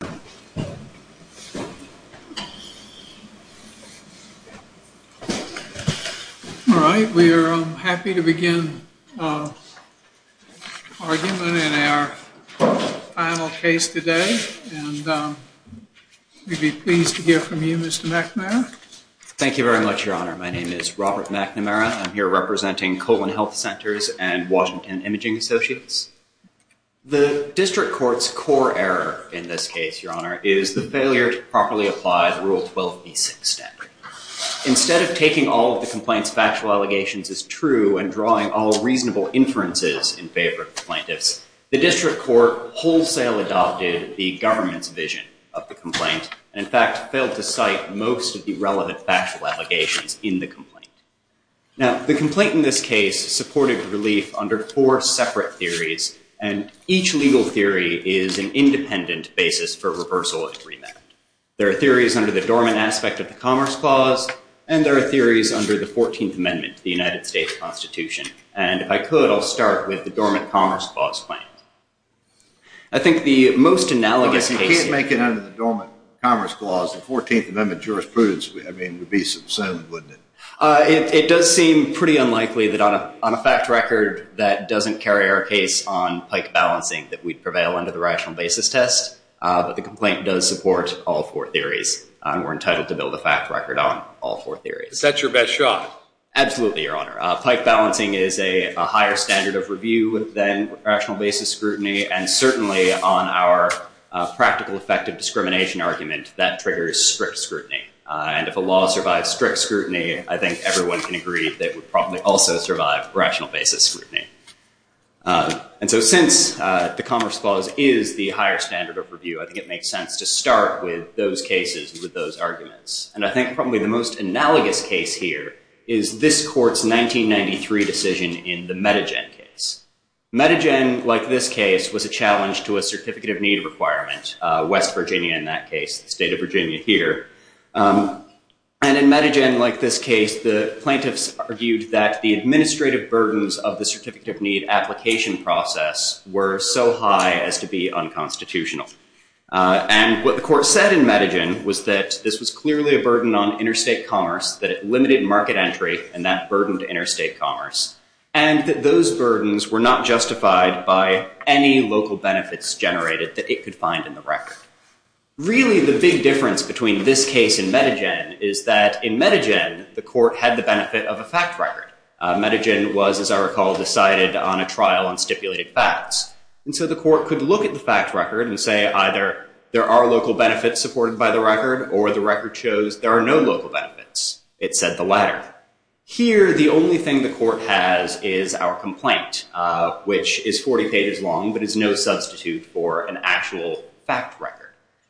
All right, we are happy to begin our argument in our final case today. We'd be pleased to hear from you, Mr. McNamara. Thank you very much, Your Honor. My name is Robert McNamara. I'm here representing Colin Health Centers and Washington Imaging Associates. The District Court's core error in this case, Your Honor, is the failure to properly apply the Rule 12b6 standard. Instead of taking all of the complaint's factual allegations as true and drawing all reasonable inferences in favor of the plaintiffs, the District Court wholesale adopted the government's vision of the complaint, and in fact, failed to cite most of the relevant factual allegations in the complaint. Now, the complaint in this case supported relief under four separate theories, and each legal theory is an independent basis for reversal and remand. There are theories under the Dormant Aspect of the Commerce Clause, and there are theories under the 14th Amendment to the United States Constitution. And if I could, I'll start with the Dormant Commerce Clause claim. I think the most analogous case— I can't make it under the Dormant Commerce Clause. The 14th Amendment jurisprudence would be subsumed, wouldn't it? It does seem pretty unlikely that on a fact record that doesn't carry our case on pike balancing that we'd prevail under the rational basis test, but the complaint does support all four theories, and we're entitled to build a fact record on all four theories. Is that your best shot? Absolutely, Your Honor. Pike balancing is a higher standard of review than rational basis scrutiny, and certainly on our practical effective discrimination argument, that triggers strict scrutiny. And if a law survives strict scrutiny, I think everyone can agree that it would probably also survive rational basis scrutiny. And so since the Commerce Clause is the higher standard of review, I think it makes sense to start with those cases with those arguments. And I think probably the most analogous case here is this Court's 1993 decision in the Metagen case. Metagen, like this case, was a challenge to a certificate of need requirement. West Virginia in that case, the state of Virginia here. And in Metagen, like this case, the plaintiffs argued that the administrative burdens of the certificate of need application process were so high as to be unconstitutional. And what the court said in Metagen was that this was clearly a burden on interstate commerce, that it limited market entry and that burdened interstate commerce, and that those burdens were not justified by any local benefits generated that it could find in the record. Really, the big difference between this case and Metagen is that in Metagen, the court had the benefit of a fact record. Metagen was, as I recall, decided on a trial on stipulated facts. And so the court could look at the fact record and say either there are local benefits supported by the record or the record shows there are no local benefits. It said the latter. Here, the only thing the court has is our complaint, which is 40 pages long but is no substitute for an actual fact record.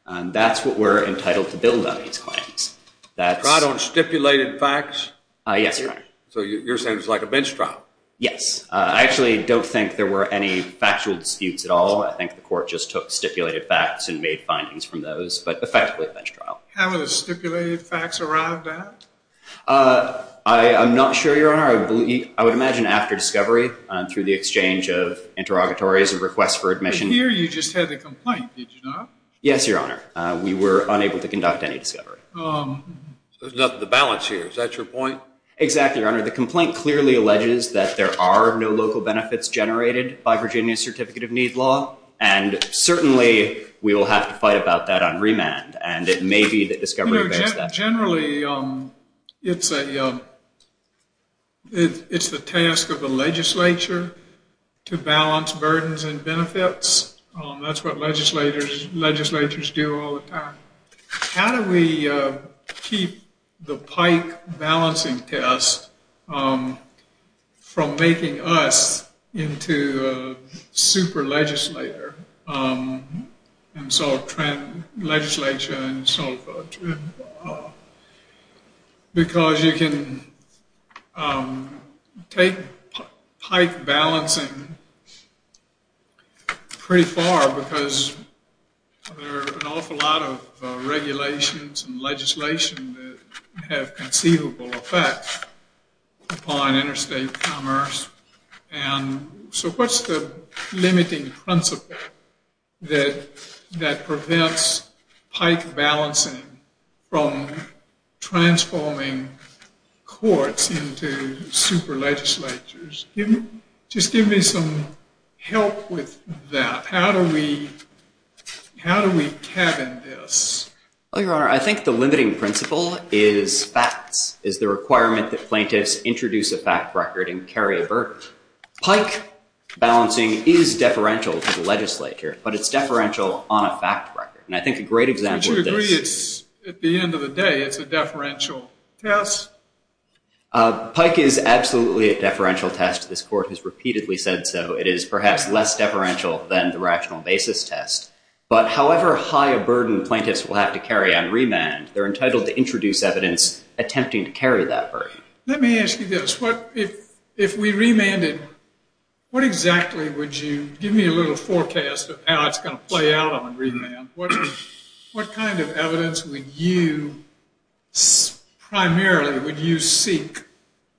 And that's what we're entitled to build on these claims. That's- Trial on stipulated facts? Yes, Your Honor. So you're saying it's like a bench trial? Yes. I actually don't think there were any factual disputes at all. I think the court just took stipulated facts and made findings from those, but effectively a bench trial. How many stipulated facts arrived at? I'm not sure, Your Honor. I would imagine after discovery, through the exchange of interrogatories and requests for admission- Here, you just had the complaint, did you not? Yes, Your Honor. We were unable to conduct any discovery. There's nothing to balance here. Is that your point? Exactly, Your Honor. The complaint clearly alleges that there are no local benefits generated by Virginia's Certificate of Need law. And certainly, we will have to fight about that on remand, and it may be that discovery- Generally, it's the task of the legislature to balance burdens and benefits. That's what legislatures do all the time. How do we keep the pike balancing test from making us into a super legislator? And so, legislature and so forth. Because you can take pike balancing pretty far because there are an awful lot of regulations and legislation that have conceivable effects upon interstate commerce. And so, what's the limiting principle that prevents pike balancing from transforming courts into super legislatures? Just give me some help with that. How do we cabin this? Well, Your Honor, I think the limiting principle is facts. It's the requirement that plaintiffs introduce a fact record and carry a burden. Pike balancing is deferential to the legislature, but it's deferential on a fact record. And I think a great example of this- We agree it's, at the end of the day, it's a deferential test. Pike is absolutely a deferential test. This Court has repeatedly said so. It is perhaps less deferential than the rational basis test. But however high a burden plaintiffs will have to carry on remand, they're entitled to introduce evidence attempting to carry that burden. Let me ask you this. If we remanded, what exactly would you- give me a little forecast of how it's going to play out on remand. What kind of evidence would you, primarily, would you seek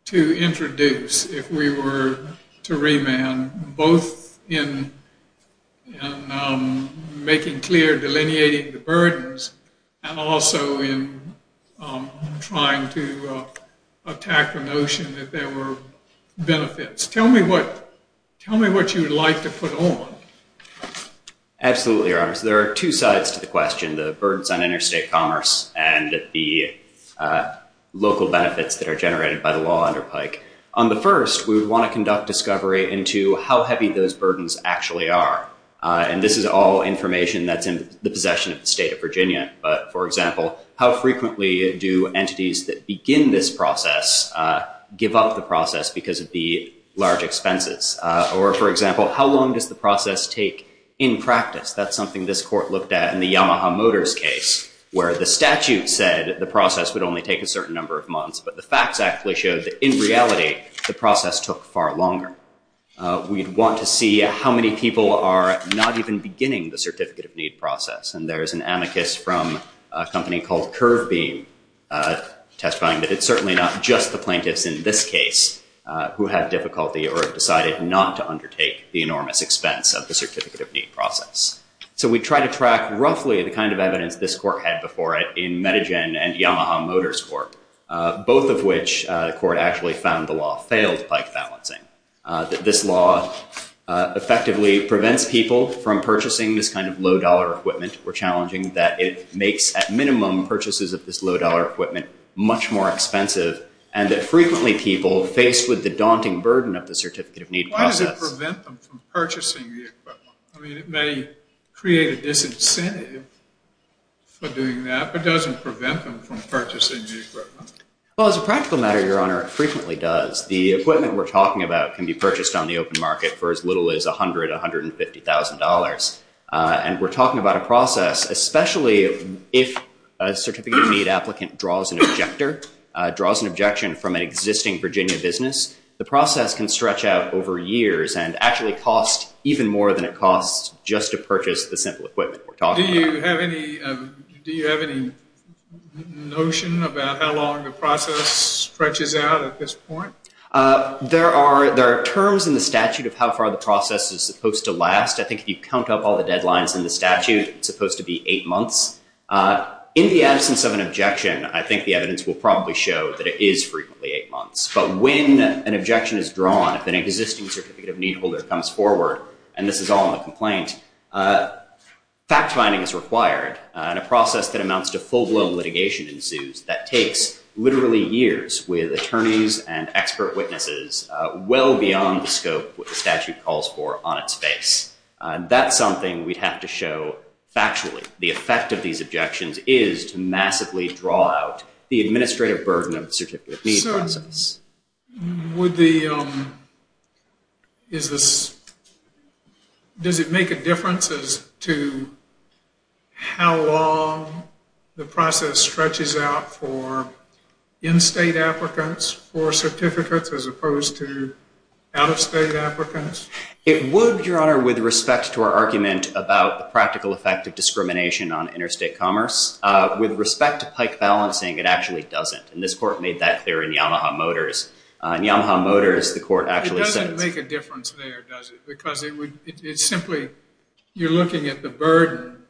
to introduce if we were to remand, both in making clear, delineating the burdens, and also in trying to attack the notion that there were benefits? Tell me what you would like to put on. Absolutely, Your Honors. There are two sides to the question, the burdens on interstate commerce and the local benefits that are generated by the law under Pike. On the first, we would want to conduct discovery into how heavy those burdens actually are. And this is all information that's in the possession of the State of Virginia. But, for example, how frequently do entities that begin this process give up the process because of the large expenses? Or, for example, how long does the process take in practice? That's something this Court looked at in the Yamaha Motors case, where the statute said the process would only take a certain number of months. But the facts actually showed that, in reality, the process took far longer. We'd want to see how many people are not even beginning the certificate of need process. And there is an amicus from a company called Curve Beam testifying that it's certainly not just the plaintiffs in this case who have difficulty or have decided not to undertake the enormous expense of the certificate of need process. So we try to track roughly the kind of evidence this Court had before it in Medigen and Yamaha Motors Court, both of which the Court actually found the law failed Pike balancing, that this law effectively prevents people from purchasing this kind of low-dollar equipment. We're challenging that it makes, at minimum, purchases of this low-dollar equipment much more expensive and that frequently people faced with the daunting burden of the certificate of need process— create a disincentive for doing that, but doesn't prevent them from purchasing the equipment. Well, as a practical matter, Your Honor, it frequently does. The equipment we're talking about can be purchased on the open market for as little as $100,000, $150,000. And we're talking about a process, especially if a certificate of need applicant draws an objection from an existing Virginia business. The process can stretch out over years and actually cost even more than it costs just to purchase the simple equipment we're talking about. Do you have any notion about how long the process stretches out at this point? There are terms in the statute of how far the process is supposed to last. I think if you count up all the deadlines in the statute, it's supposed to be eight months. In the absence of an objection, I think the evidence will probably show that it is frequently eight months. But when an objection is drawn, if an existing certificate of need holder comes forward—and this is all in the complaint— fact-finding is required, and a process that amounts to full-blown litigation ensues that takes literally years with attorneys and expert witnesses well beyond the scope what the statute calls for on its face. That's something we'd have to show factually. The effect of these objections is to massively draw out the administrative burden of the certificate of need process. So does it make a difference as to how long the process stretches out for in-state applicants, for certificates, as opposed to out-of-state applicants? It would, Your Honor, with respect to our argument about the practical effect of discrimination on interstate commerce. With respect to pike balancing, it actually doesn't. And this Court made that clear in Yamaha Motors. In Yamaha Motors, the Court actually said— It doesn't make a difference there, does it? Because it simply—you're looking at the burden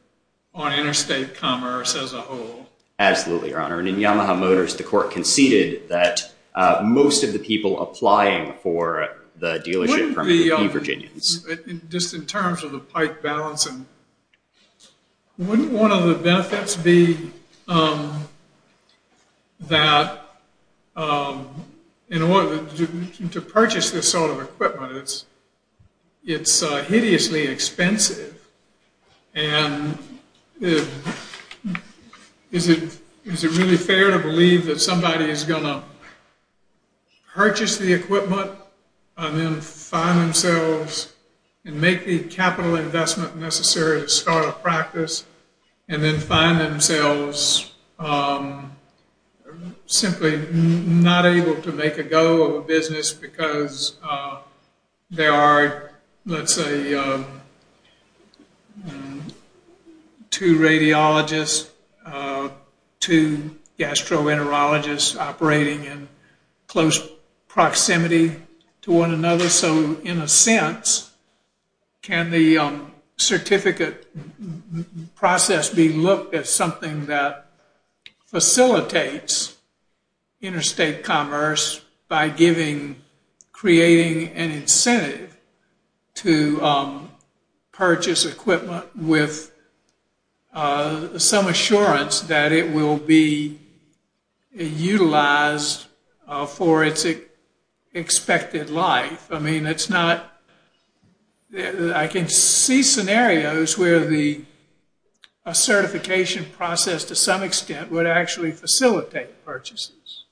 on interstate commerce as a whole. Absolutely, Your Honor. And in Yamaha Motors, the Court conceded that most of the people applying for the dealership permit— Just in terms of the pike balancing, wouldn't one of the benefits be that in order to purchase this sort of equipment, it's hideously expensive? And is it really fair to believe that somebody is going to purchase the equipment and then find themselves— and make the capital investment necessary to start a practice, and then find themselves simply not able to make a go of a business because they are, let's say, two radiologists, two gastroenterologists operating in close proximity to one another? And also, in a sense, can the certificate process be looked at something that facilitates interstate commerce by creating an incentive to purchase equipment with some assurance that it will be utilized for its expected life? I mean, it's not—I can see scenarios where the certification process, to some extent, would actually facilitate purchases.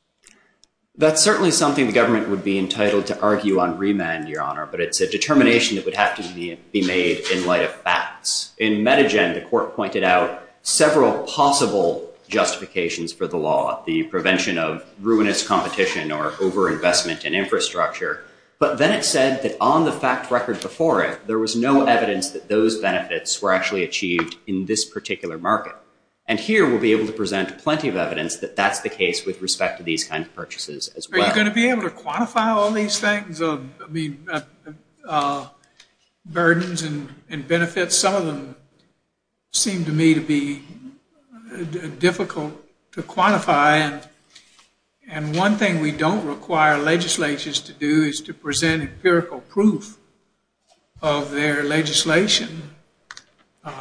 That's certainly something the government would be entitled to argue on remand, Your Honor. But it's a determination that would have to be made in light of facts. In Medigen, the Court pointed out several possible justifications for the law—the prevention of ruinous competition or overinvestment in infrastructure. But then it said that on the fact record before it, there was no evidence that those benefits were actually achieved in this particular market. And here, we'll be able to present plenty of evidence that that's the case with respect to these kinds of purchases as well. Are you going to be able to quantify all these things, burdens and benefits? Some of them seem to me to be difficult to quantify. And one thing we don't require legislatures to do is to present empirical proof of their legislation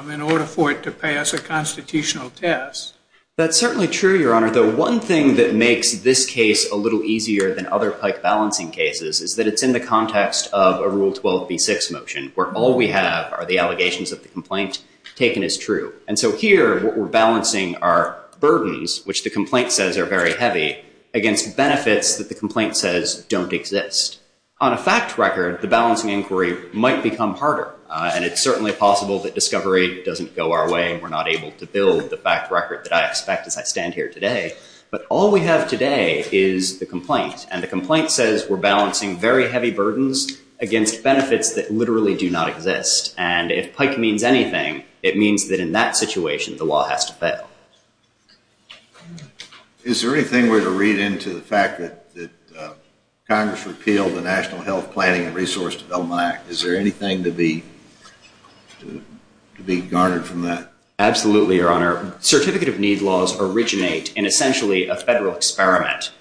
in order for it to pass a constitutional test. That's certainly true, Your Honor. The one thing that makes this case a little easier than other Pike balancing cases is that it's in the context of a Rule 12b6 motion, where all we have are the allegations of the complaint taken as true. And so here, what we're balancing are burdens, which the complaint says are very heavy, against benefits that the complaint says don't exist. On a fact record, the balancing inquiry might become harder, and it's certainly possible that discovery doesn't go our way and we're not able to build the fact record that I expect as I stand here today. But all we have today is the complaint, and the complaint says we're balancing very heavy burdens against benefits that literally do not exist. And if Pike means anything, it means that in that situation, the law has to fail. Is there anything we're to read into the fact that Congress repealed the National Health Planning and Resource Development Act? Is there anything to be garnered from that? Absolutely, Your Honor. Your Honor, certificate of need laws originate in essentially a federal experiment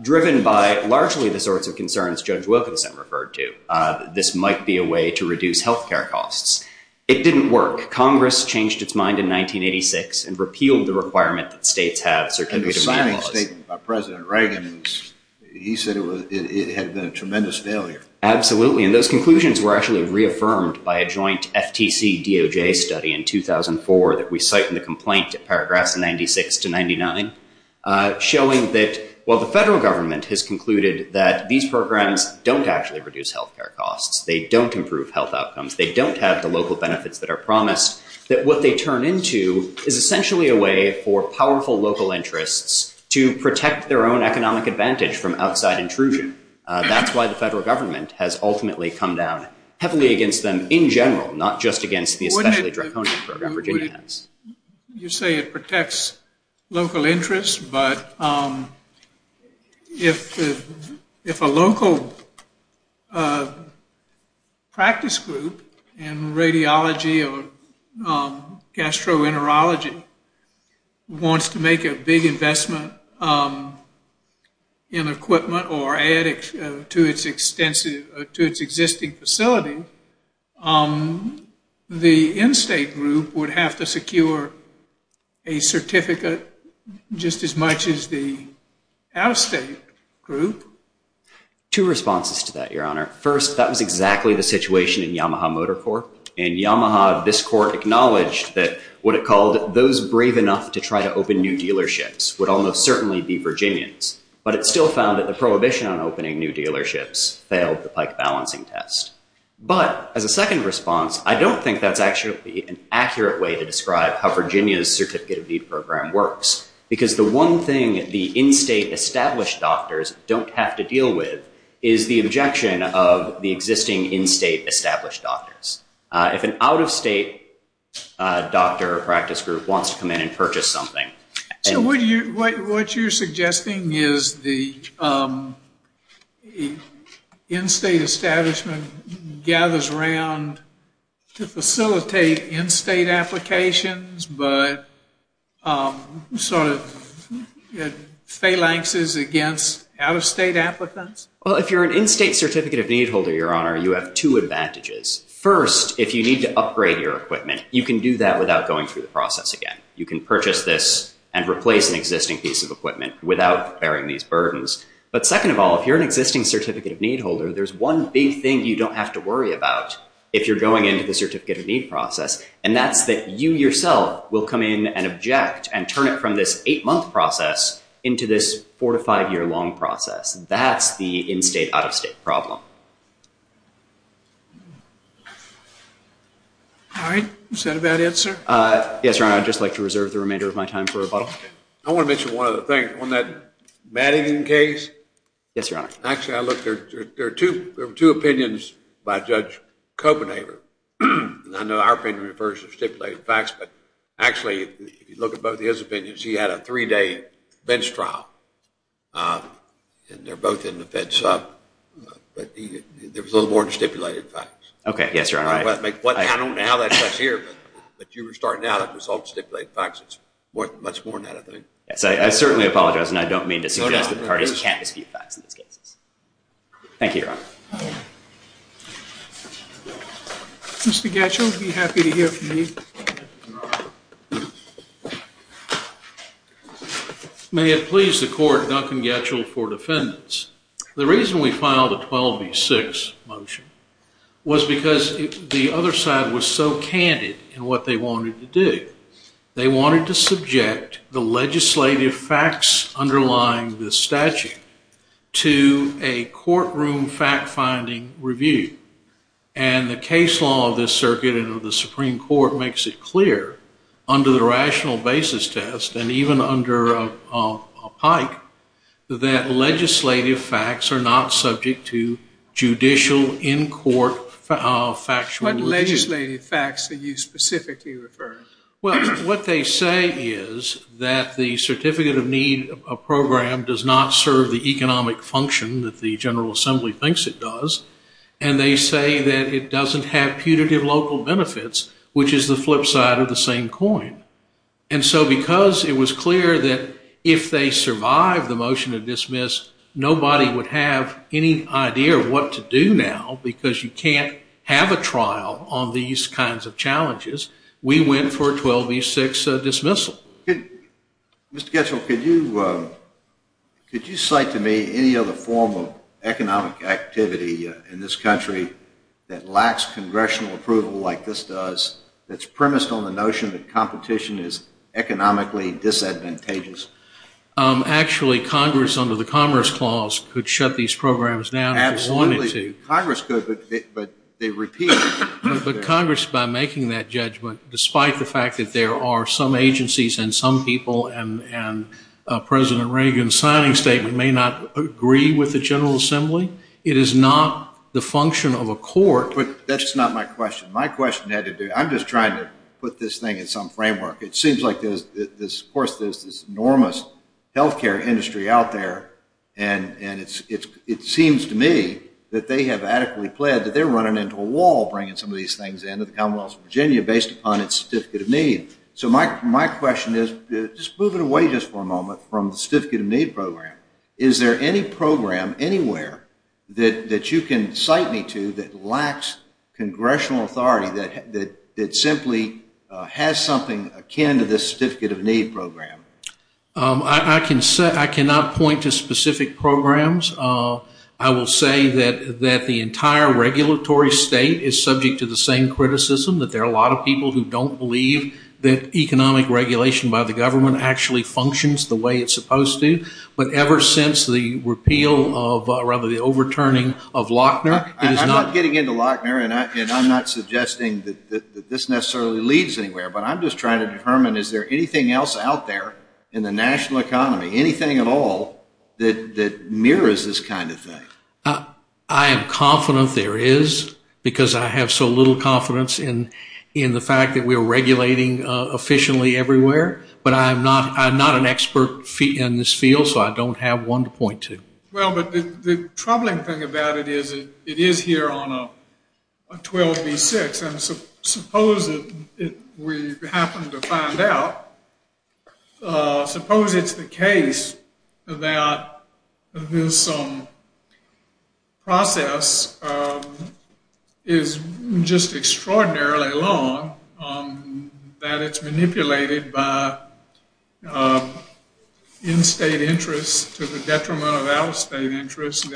driven by largely the sorts of concerns Judge Wilkinson referred to. This might be a way to reduce health care costs. It didn't work. Congress changed its mind in 1986 and repealed the requirement that states have certificate of need laws. And the signing statement by President Reagan, he said it had been a tremendous failure. Absolutely. And those conclusions were actually reaffirmed by a joint FTC-DOJ study in 2004 that we cite in the complaint at paragraphs 96 to 99, showing that while the federal government has concluded that these programs don't actually reduce health care costs, they don't improve health outcomes, they don't have the local benefits that are promised, that what they turn into is essentially a way for powerful local interests to protect their own economic advantage from outside intrusion. That's why the federal government has ultimately come down heavily against them in general, not just against the especially draconian program Virginia has. You say it protects local interests, but if a local practice group in radiology or gastroenterology wants to make a big investment in equipment or add to its existing facility, the in-state group would have to secure a certificate just as much as the out-of-state group. Two responses to that, Your Honor. First, that was exactly the situation in Yamaha Motor Corp. In Yamaha, this court acknowledged that what it called those brave enough to try to open new dealerships would almost certainly be Virginians. But it still found that the prohibition on opening new dealerships failed the pike balancing test. But as a second response, I don't think that's actually an accurate way to describe how Virginia's certificate of need program works. Because the one thing the in-state established doctors don't have to deal with is the objection of the existing in-state established doctors. If an out-of-state doctor or practice group wants to come in and purchase something. So what you're suggesting is the in-state establishment gathers around to facilitate in-state applications, but sort of phalanxes against out-of-state applicants? Well, if you're an in-state certificate of need holder, Your Honor, you have two advantages. First, if you need to upgrade your equipment, you can do that without going through the process again. You can purchase this and replace an existing piece of equipment without bearing these burdens. But second of all, if you're an existing certificate of need holder, there's one big thing you don't have to worry about if you're going into the certificate of need process. And that's that you yourself will come in and object and turn it from this eight month process into this four to five year long process. That's the in-state out-of-state problem. All right. Is that a bad answer? Yes, Your Honor. I'd just like to reserve the remainder of my time for rebuttal. I want to mention one other thing. On that Madigan case? Yes, Your Honor. Actually, I looked. There were two opinions by Judge Copenhaver. And I know our opinion refers to stipulated facts. But actually, if you look at both his opinions, he had a three day bench trial. And they're both in the bench. But there was a little more to stipulated facts. OK. Yes, Your Honor. I don't know how that got here. But you were starting out. It was all stipulated facts. It's worth much more than that, I think. Yes, I certainly apologize. And I don't mean to suggest that the parties can't dispute facts in these cases. Thank you, Your Honor. Mr. Gatchell would be happy to hear from you. May it please the court, Duncan Gatchell for defendants. The reason we filed a 12 v. 6 motion was because the other side was so candid in what they wanted to do. They wanted to subject the legislative facts underlying the statute to a courtroom fact finding review. And the case law of this circuit and of the Supreme Court makes it clear under the rational basis test, and even under a pike, that legislative facts are not subject to judicial in court factual review. What legislative facts are you specifically referring to? Well, what they say is that the certificate of need program does not serve the economic function that the General Assembly thinks it does. And they say that it doesn't have putative local benefits, which is the flip side of the same coin. And so because it was clear that if they survived the motion to dismiss, nobody would have any idea of what to do now because you can't have a trial on these kinds of challenges. We went for a 12 v. 6 dismissal. Mr. Gatchell, could you cite to me any other form of economic activity in this country that lacks congressional approval like this does, that's premised on the notion that competition is economically disadvantageous? Actually, Congress under the Commerce Clause could shut these programs down if they wanted to. Absolutely, Congress could, but they repeat. But Congress, by making that judgment, despite the fact that there are some agencies and some people and President Reagan's signing statement may not agree with the General Assembly, it is not the function of a court. But that's not my question. I'm just trying to put this thing in some framework. It seems like, of course, there's this enormous health care industry out there, and it seems to me that they have adequately pled that they're running into a wall bringing some of these things into the Commonwealth of Virginia based upon its certificate of need. So my question is, just moving away just for a moment from the certificate of need program, is there any program anywhere that you can cite me to that lacks congressional authority, that simply has something akin to this certificate of need program? I cannot point to specific programs. I will say that the entire regulatory state is subject to the same criticism, that there are a lot of people who don't believe that economic regulation by the government actually functions the way it's supposed to. But ever since the repeal of, or rather the overturning of Lochner, it has not been... I'm not getting into Lochner, and I'm not suggesting that this necessarily leads anywhere. But I'm just trying to determine, is there anything else out there in the national economy, anything at all that mirrors this kind of thing? I am confident there is because I have so little confidence in the fact that we are regulating efficiently everywhere. But I'm not an expert in this field, so I don't have one to point to. Well, but the troubling thing about it is it is here on a 12B6, and suppose we happen to find out, suppose it's the case that this process is just extraordinarily long, that it's manipulated by in-state interests to the detriment of out-of-state interests.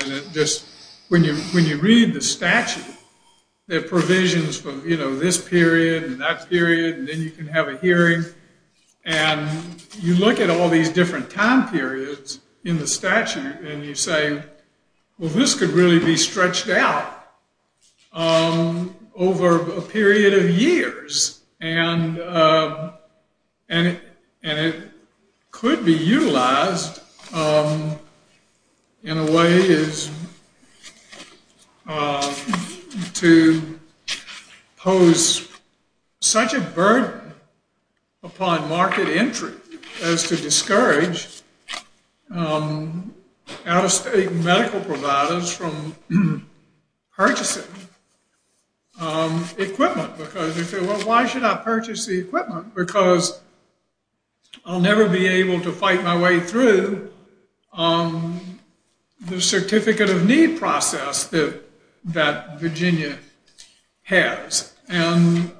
When you read the statute, there are provisions for this period and that period, and then you can have a hearing. And you look at all these different time periods in the statute, and you say, well, this could really be stretched out over a period of years, and it could be utilized in a way to pose such a burden upon market entry as to discourage out-of-state medical providers from purchasing equipment. Well, why should I purchase the equipment? Because I'll never be able to fight my way through the certificate of need process that Virginia has. And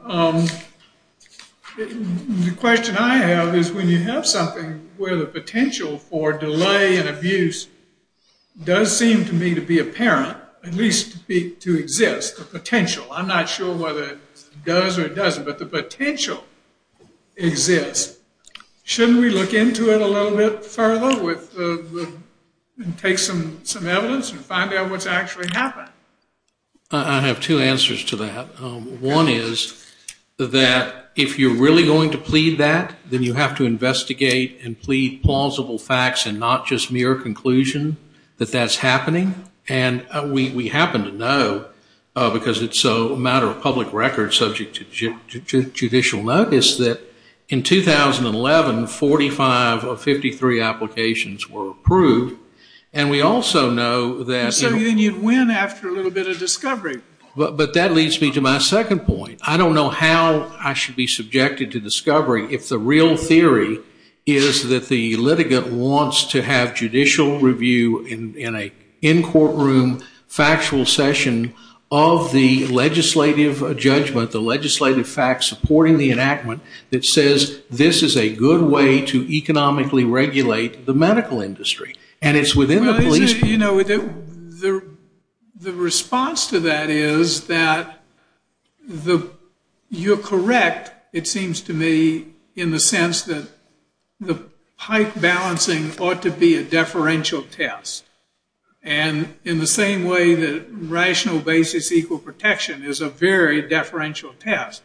the question I have is when you have something where the potential for delay and abuse does seem to me to be apparent, at least to exist, the potential. I'm not sure whether it does or doesn't, but the potential exists. Shouldn't we look into it a little bit further and take some evidence and find out what's actually happened? I have two answers to that. One is that if you're really going to plead that, then you have to investigate and plead plausible facts and not just mere conclusion that that's happening. And we happen to know, because it's a matter of public record subject to judicial notice, that in 2011, 45 of 53 applications were approved. And we also know that- So then you'd win after a little bit of discovery. But that leads me to my second point. I don't know how I should be subjected to discovery if the real theory is that the litigant wants to have judicial review in a in-courtroom factual session of the legislative judgment, the legislative fact supporting the enactment that says this is a good way to economically regulate the medical industry. The response to that is that you're correct, it seems to me, in the sense that the pipe balancing ought to be a deferential test. And in the same way that rational basis equal protection is a very deferential test.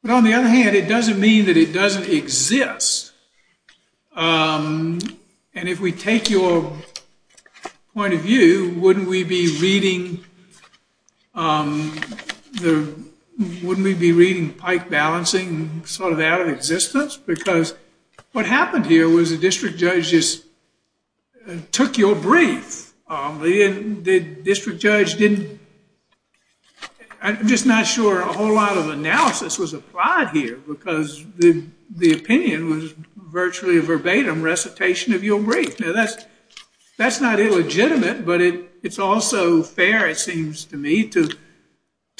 But on the other hand, it doesn't mean that it doesn't exist. And if we take your point of view, wouldn't we be reading the- wouldn't we be reading pipe balancing sort of out of existence? Because what happened here was the district judge just took your brief. The district judge didn't- I'm just not sure a whole lot of analysis was applied here, because the opinion was virtually a verbatim recitation of your brief. Now, that's not illegitimate, but it's also fair, it seems to me, to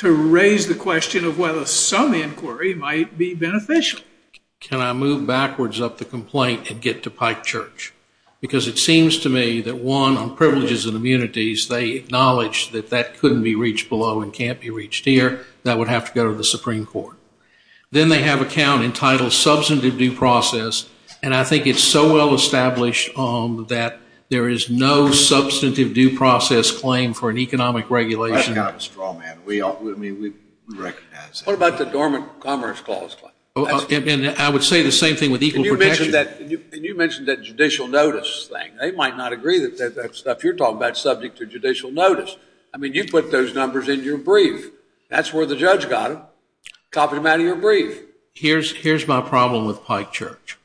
raise the question of whether some inquiry might be beneficial. Can I move backwards up the complaint and get to Pike Church? Because it seems to me that, one, on privileges and immunities, they acknowledge that that couldn't be reached below and can't be reached here. That would have to go to the Supreme Court. Then they have a count entitled substantive due process, and I think it's so well established that there is no substantive due process claim for an economic regulation. That's kind of a straw man. I mean, we recognize that. What about the dormant commerce clause claim? I would say the same thing with equal protection. And you mentioned that judicial notice thing. They might not agree that that stuff you're talking about is subject to judicial notice. I mean, you put those numbers in your brief. That's where the judge got them. Copied them out of your brief. Here's my problem with Pike Church.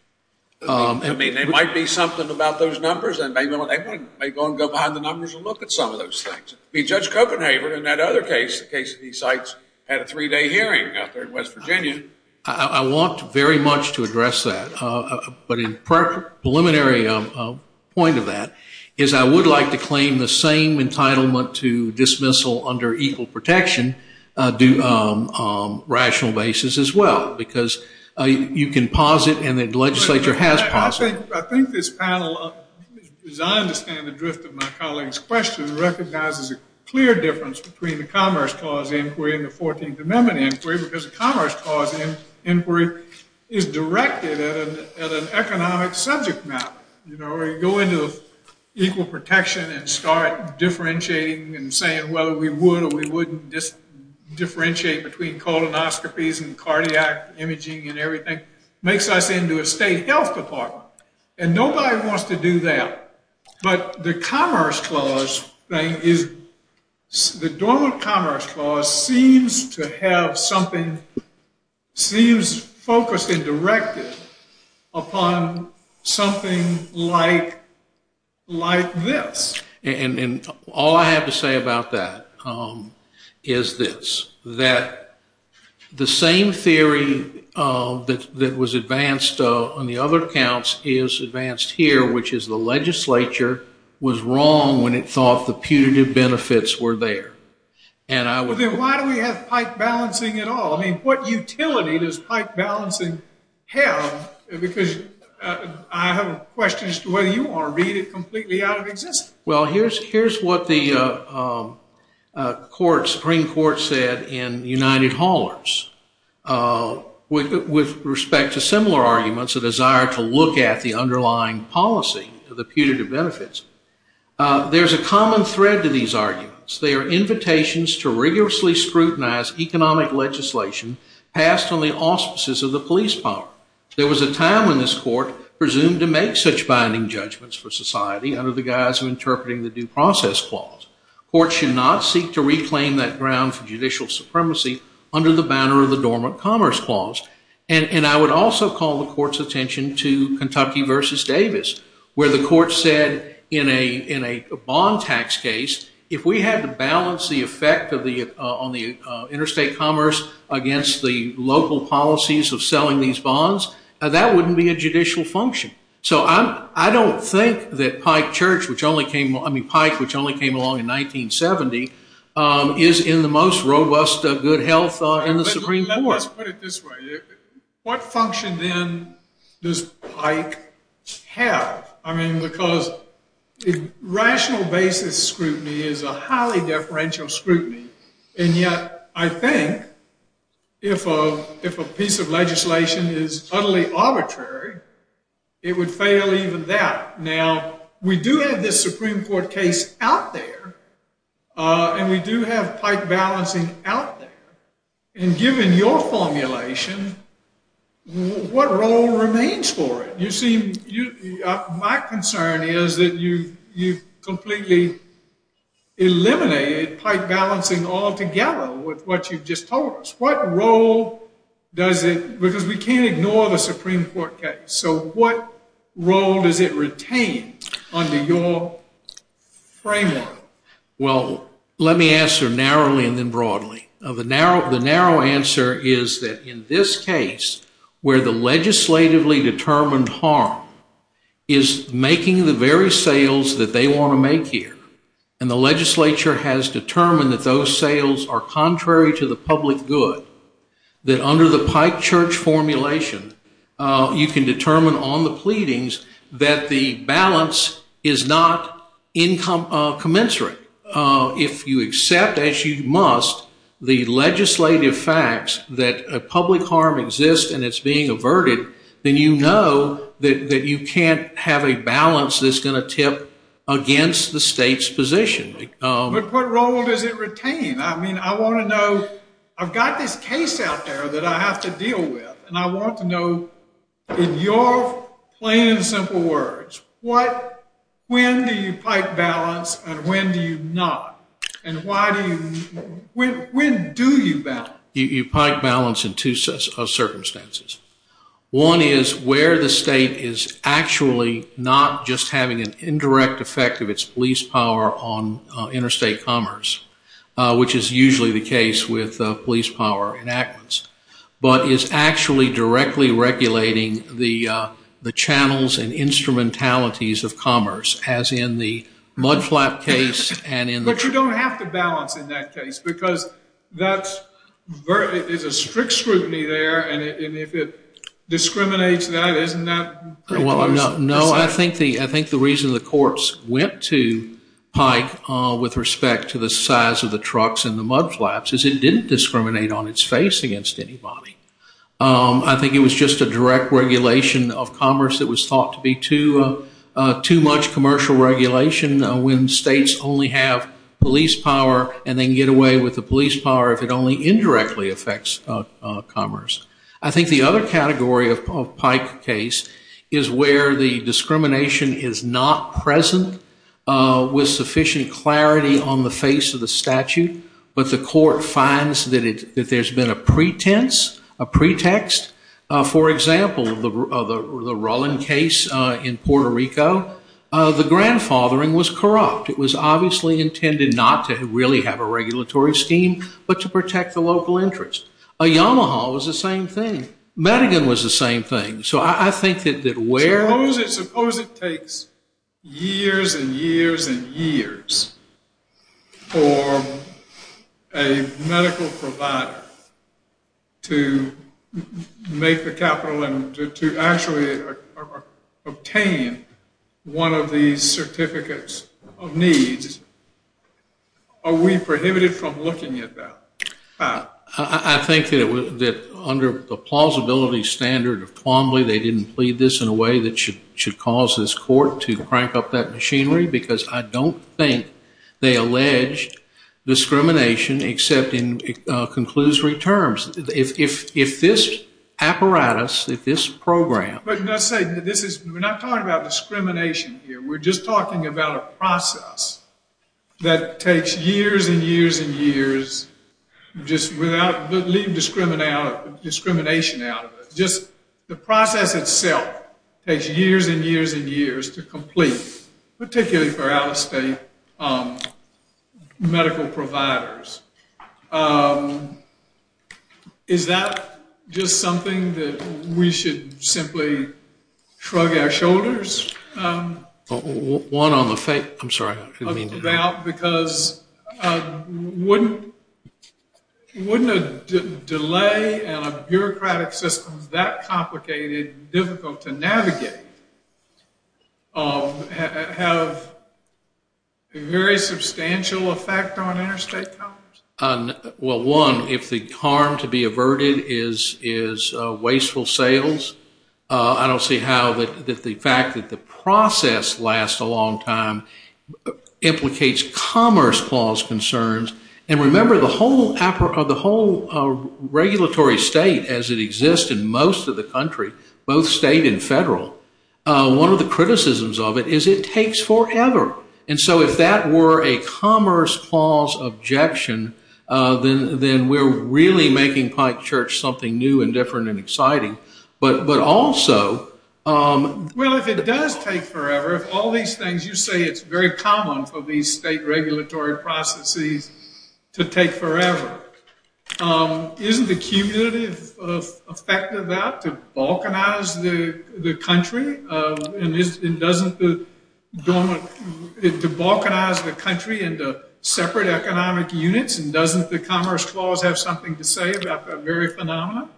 I mean, there might be something about those numbers, and they may go and go behind the numbers and look at some of those things. Judge Copenhaver, in that other case, the case of these sites, had a three-day hearing out there in West Virginia. I want very much to address that. But a preliminary point of that is I would like to claim the same entitlement to dismissal under equal protection on a rational basis as well, because you can pause it and the legislature has paused it. I think this panel, as I understand the drift of my colleague's question, recognizes a clear difference between the commerce clause inquiry and the 14th Amendment inquiry, because the commerce clause inquiry is directed at an economic subject matter, where you go into equal protection and start differentiating and saying whether we would or we wouldn't differentiate between colonoscopies and cardiac imaging and everything. It makes us into a state health department, and nobody wants to do that. But the commerce clause thing is the normal commerce clause seems to have something, seems focused and directed upon something like this. And all I have to say about that is this, that the same theory that was advanced on the other accounts is advanced here, which is the legislature was wrong when it thought the putative benefits were there. Then why do we have pike balancing at all? I mean, what utility does pike balancing have? Because I have a question as to whether you want to read it completely out of existence. Well, here's what the Supreme Court said in United Haulers. With respect to similar arguments, a desire to look at the underlying policy of the putative benefits, there's a common thread to these arguments. They are invitations to rigorously scrutinize economic legislation passed on the auspices of the police power. There was a time when this court presumed to make such binding judgments for society under the guise of interpreting the due process clause. Courts should not seek to reclaim that ground for judicial supremacy under the banner of the dormant commerce clause. And I would also call the court's attention to Kentucky versus Davis, where the court said in a bond tax case, if we had to balance the effect on the interstate commerce against the local policies of selling these bonds, that wouldn't be a judicial function. So I don't think that Pike Church, which only came along in 1970, is in the most robust good health in the Supreme Court. Let's put it this way. What function, then, does Pike have? I mean, because rational basis scrutiny is a highly deferential scrutiny, and yet I think if a piece of legislation is utterly arbitrary, it would fail even that. Now, we do have this Supreme Court case out there, and we do have Pike balancing out there. And given your formulation, what role remains for it? My concern is that you've completely eliminated Pike balancing altogether with what you've just told us. What role does it, because we can't ignore the Supreme Court case, so what role does it retain under your framework? Well, let me answer narrowly and then broadly. The narrow answer is that in this case, where the legislatively determined harm is making the very sales that they want to make here, and the legislature has determined that those sales are contrary to the public good, that under the Pike Church formulation you can determine on the pleadings that the balance is not commensurate. If you accept, as you must, the legislative facts that public harm exists and it's being averted, then you know that you can't have a balance that's going to tip against the state's position. But what role does it retain? I mean, I want to know. I've got this case out there that I have to deal with, and I want to know, in your plain and simple words, when do you Pike balance and when do you not? And when do you balance? You Pike balance in two circumstances. One is where the state is actually not just having an indirect effect of its police power on interstate commerce, which is usually the case with police power enactments, but is actually directly regulating the channels and instrumentalities of commerce, as in the mudflap case. But you don't have to balance in that case because that's a strict scrutiny there, and if it discriminates that, isn't that? No, I think the reason the courts went to Pike with respect to the size of the trucks and the mudflaps is it didn't discriminate on its face against anybody. I think it was just a direct regulation of commerce that was thought to be too much commercial regulation when states only have police power and they can get away with the police power if it only indirectly affects commerce. I think the other category of Pike case is where the discrimination is not present with sufficient clarity on the face of the statute, but the court finds that there's been a pretense, a pretext. For example, the Rowland case in Puerto Rico, the grandfathering was corrupt. It was obviously intended not to really have a regulatory scheme, but to protect the local interest. Yamaha was the same thing. Madigan was the same thing. Suppose it takes years and years and years for a medical provider to make the capital and to actually obtain one of these certificates of needs. Are we prohibited from looking at that? I think that under the plausibility standard of Plombly, they didn't plead this in a way that should cause this court to crank up that machinery because I don't think they allege discrimination except in conclusory terms. If this apparatus, if this program... We're not talking about discrimination here. We're just talking about a process that takes years and years and years, just leave discrimination out of it. Just the process itself takes years and years and years to complete, particularly for out-of-state medical providers. Is that just something that we should simply shrug our shoulders? One on the... I'm sorry, I didn't mean to... About because wouldn't a delay and a bureaucratic system that complicated, difficult to navigate, have a very substantial effect on interstate commerce? Well, one, if the harm to be averted is wasteful sales, I don't see how the fact that the process lasts a long time implicates commerce clause concerns. And remember, the whole regulatory state as it exists in most of the country, both state and federal, one of the criticisms of it is it takes forever. And so if that were a commerce clause objection, then we're really making Pike Church something new and different and exciting. But also... Well, if it does take forever, if all these things you say it's very common for these state regulatory processes to take forever, isn't the cumulative effect of that to balkanize the country? And doesn't the... to balkanize the country into separate economic units and doesn't the commerce clause have something to say about that very phenomenon?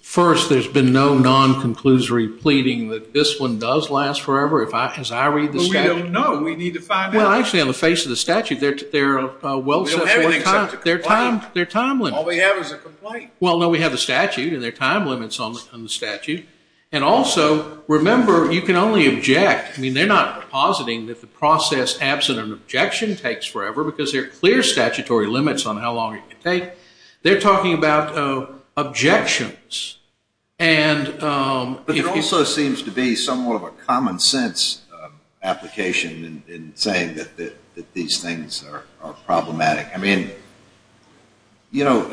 First, there's been no non-conclusory pleading that this one does last forever, as I read the statute. Well, we don't know. We need to find out. Well, actually, on the face of the statute, they're well set for a time. We don't have anything except a complaint. They're time limits. All we have is a complaint. Well, no, we have a statute, and there are time limits on the statute. And also, remember, you can only object. I mean, they're not depositing that the process absent an objection takes forever because there are clear statutory limits on how long it can take. They're talking about objections. But it also seems to be somewhat of a common sense application in saying that these things are problematic. I mean, you know,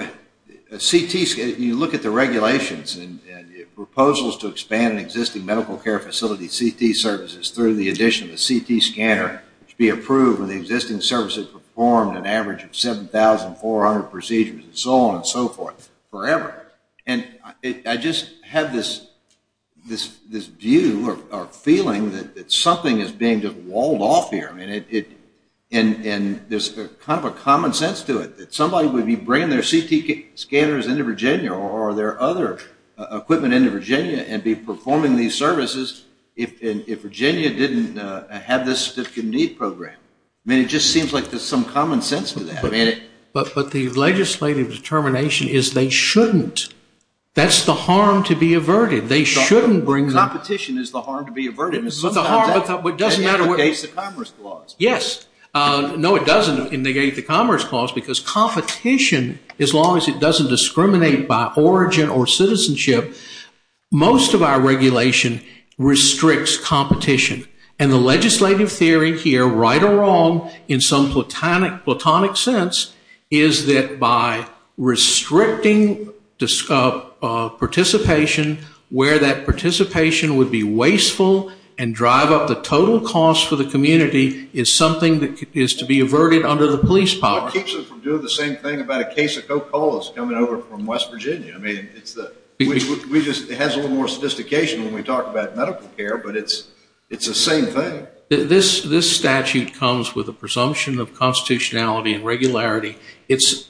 CT, you look at the regulations and proposals to expand an existing medical care facility CT services through the addition of a CT scanner to be approved when the existing services performed an average of 7,400 procedures and so on and so forth forever. And I just have this view or feeling that something is being just walled off here. I mean, there's kind of a common sense to it that somebody would be bringing their CT scanners into Virginia or their other equipment into Virginia and be performing these services if Virginia didn't have this need program. I mean, it just seems like there's some common sense to that. But the legislative determination is they shouldn't. That's the harm to be averted. Competition is the harm to be averted. It negates the commerce clause. Yes. No, it doesn't negate the commerce clause because competition, as long as it doesn't discriminate by origin or citizenship, most of our regulation restricts competition. And the legislative theory here, right or wrong, in some platonic sense is that by restricting participation where that participation would be wasteful and drive up the total cost for the community is something that is to be averted under the police power. What keeps them from doing the same thing about a case of Coca-Cola coming over from West Virginia? It has a little more sophistication when we talk about medical care, but it's the same thing. This statute comes with a presumption of constitutionality and regularity. It's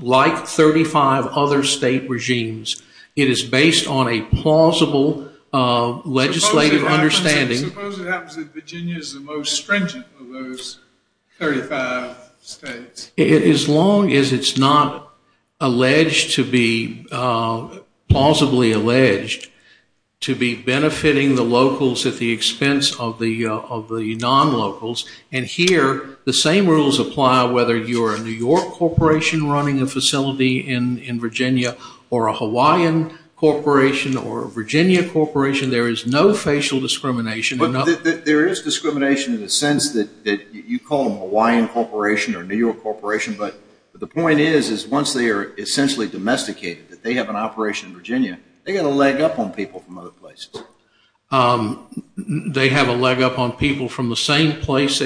like 35 other state regimes. It is based on a plausible legislative understanding. Suppose it happens that Virginia is the most stringent of those 35 states. As long as it's not alleged to be plausibly alleged to be benefiting the locals at the expense of the non-locals. And here the same rules apply whether you're a New York corporation running a facility in Virginia or a Hawaiian corporation or a Virginia corporation. There is no facial discrimination. There is discrimination in the sense that you call them But the point is, once they are essentially domesticated, that they have an operation in Virginia, they've got a leg up on people from other places. They have a leg up on people from the same place.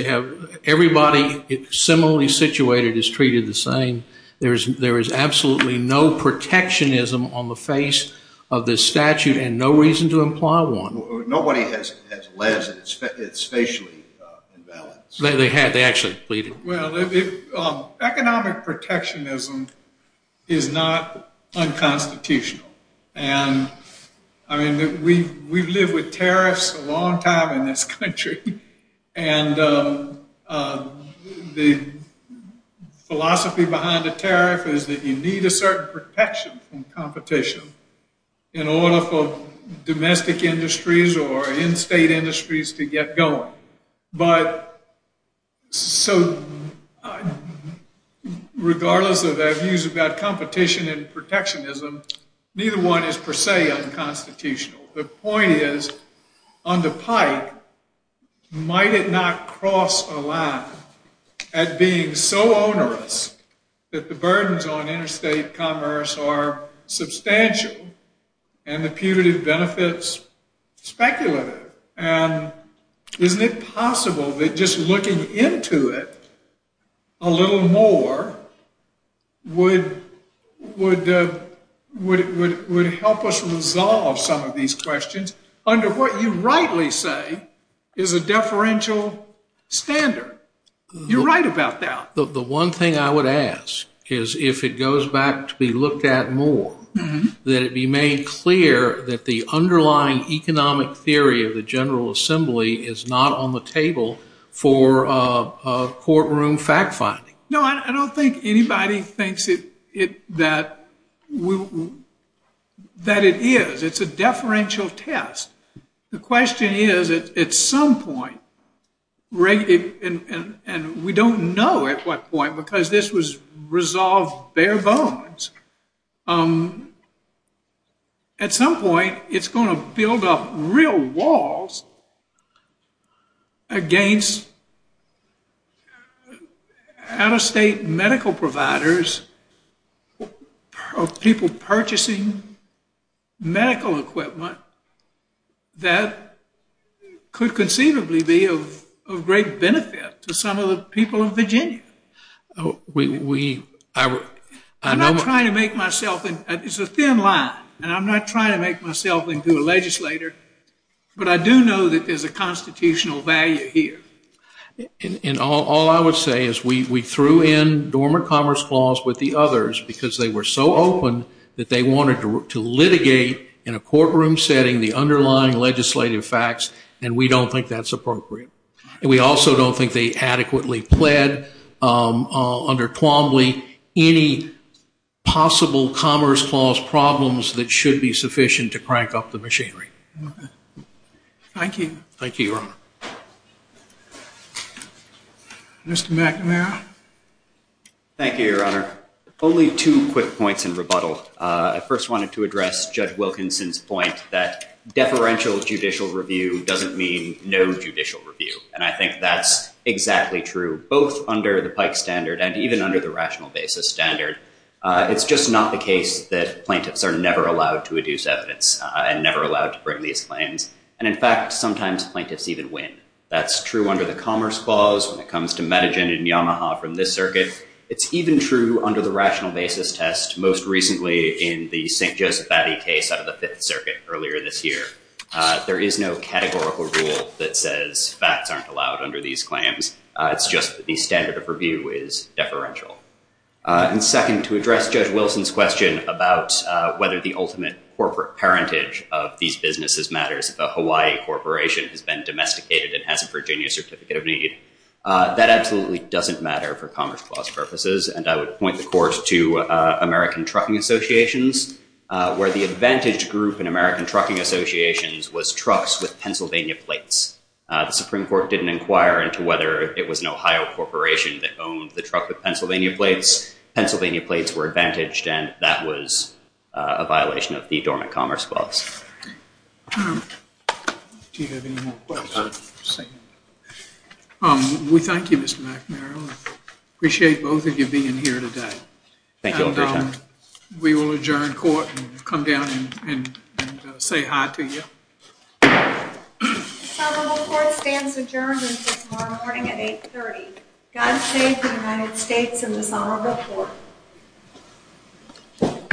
Everybody similarly situated is treated the same. There is absolutely no protectionism on the face of this statute and no reason to imply one. Nobody has alleged it's facially imbalanced. Economic protectionism is not unconstitutional. We've lived with tariffs a long time in this country. The philosophy behind a tariff is that you need a certain protection from competition in order for domestic industries or in-state industries to get going. So regardless of their views about competition and protectionism, neither one is per se unconstitutional. The point is, on the pike, might it not cross a line at being so onerous that the burdens on interstate commerce are substantial and the putative benefits speculative? Isn't it possible that just looking into it a little more would help us resolve some of these questions under what you rightly say is a deferential standard? You're right about that. The one thing I would ask is if it goes back to be looked at more, that it be made clear that the underlying economic theory of the General Assembly is not on the table for courtroom fact-finding. No, I don't think anybody thinks that it is. It's a deferential test. The question is, at some point, and we don't know at what point because this was resolved bare bones, at some point it's going to build up real walls against out-of-state medical providers of people purchasing medical equipment that could conceivably be of great benefit to some of the people of Virginia. I'm not trying to make myself, it's a thin line, and I'm not trying to make myself into a legislator, but I do know that there's a constitutional value here. And all I would say is we threw in Dormant Commerce Clause with the others because they were so open that they wanted to litigate in a courtroom setting the underlying legislative facts, and we don't think that's appropriate. And we also don't think they adequately pled under Twombly any possible Commerce Clause problems that should be sufficient to crank up the machinery. Thank you. Thank you, Your Honor. Mr. McNamara. Thank you, Your Honor. Only two quick points in rebuttal. I first wanted to address Judge Wilkinson's point that deferential judicial review doesn't mean no judicial review, and I think that's exactly true, both under the Pike Standard and even under the Rational Basis Standard. It's just not the case that plaintiffs are never allowed to adduce evidence and never allowed to bring these claims. And, in fact, sometimes plaintiffs even win. That's true under the Commerce Clause when it comes to Medigen and Yamaha from this circuit. It's even true under the Rational Basis Test, most recently in the St. Joseph Batty case out of the Fifth Circuit earlier this year. There is no categorical rule that says facts aren't allowed under these claims. It's just the standard of review is deferential. And second, to address Judge Wilson's question about whether the ultimate corporate parentage of these businesses matters, if a Hawaii corporation has been domesticated and has a Virginia Certificate of Need, that absolutely doesn't matter for Commerce Clause purposes, and I would point the court to American Trucking Associations, where the advantaged group in American Trucking Associations was trucks with Pennsylvania plates. The Supreme Court didn't inquire into whether it was an Ohio corporation that owned the truck with Pennsylvania plates. Pennsylvania plates were advantaged, and that was a violation of the Dormant Commerce Clause. Do you have any more questions? We thank you, Mr. McNary. I appreciate both of you being here today. Thank you, Your Honor. We will adjourn court and come down and say hi to you. The Somerville Court stands adjourned until tomorrow morning at 8.30. God save the United States and the Somerville Court.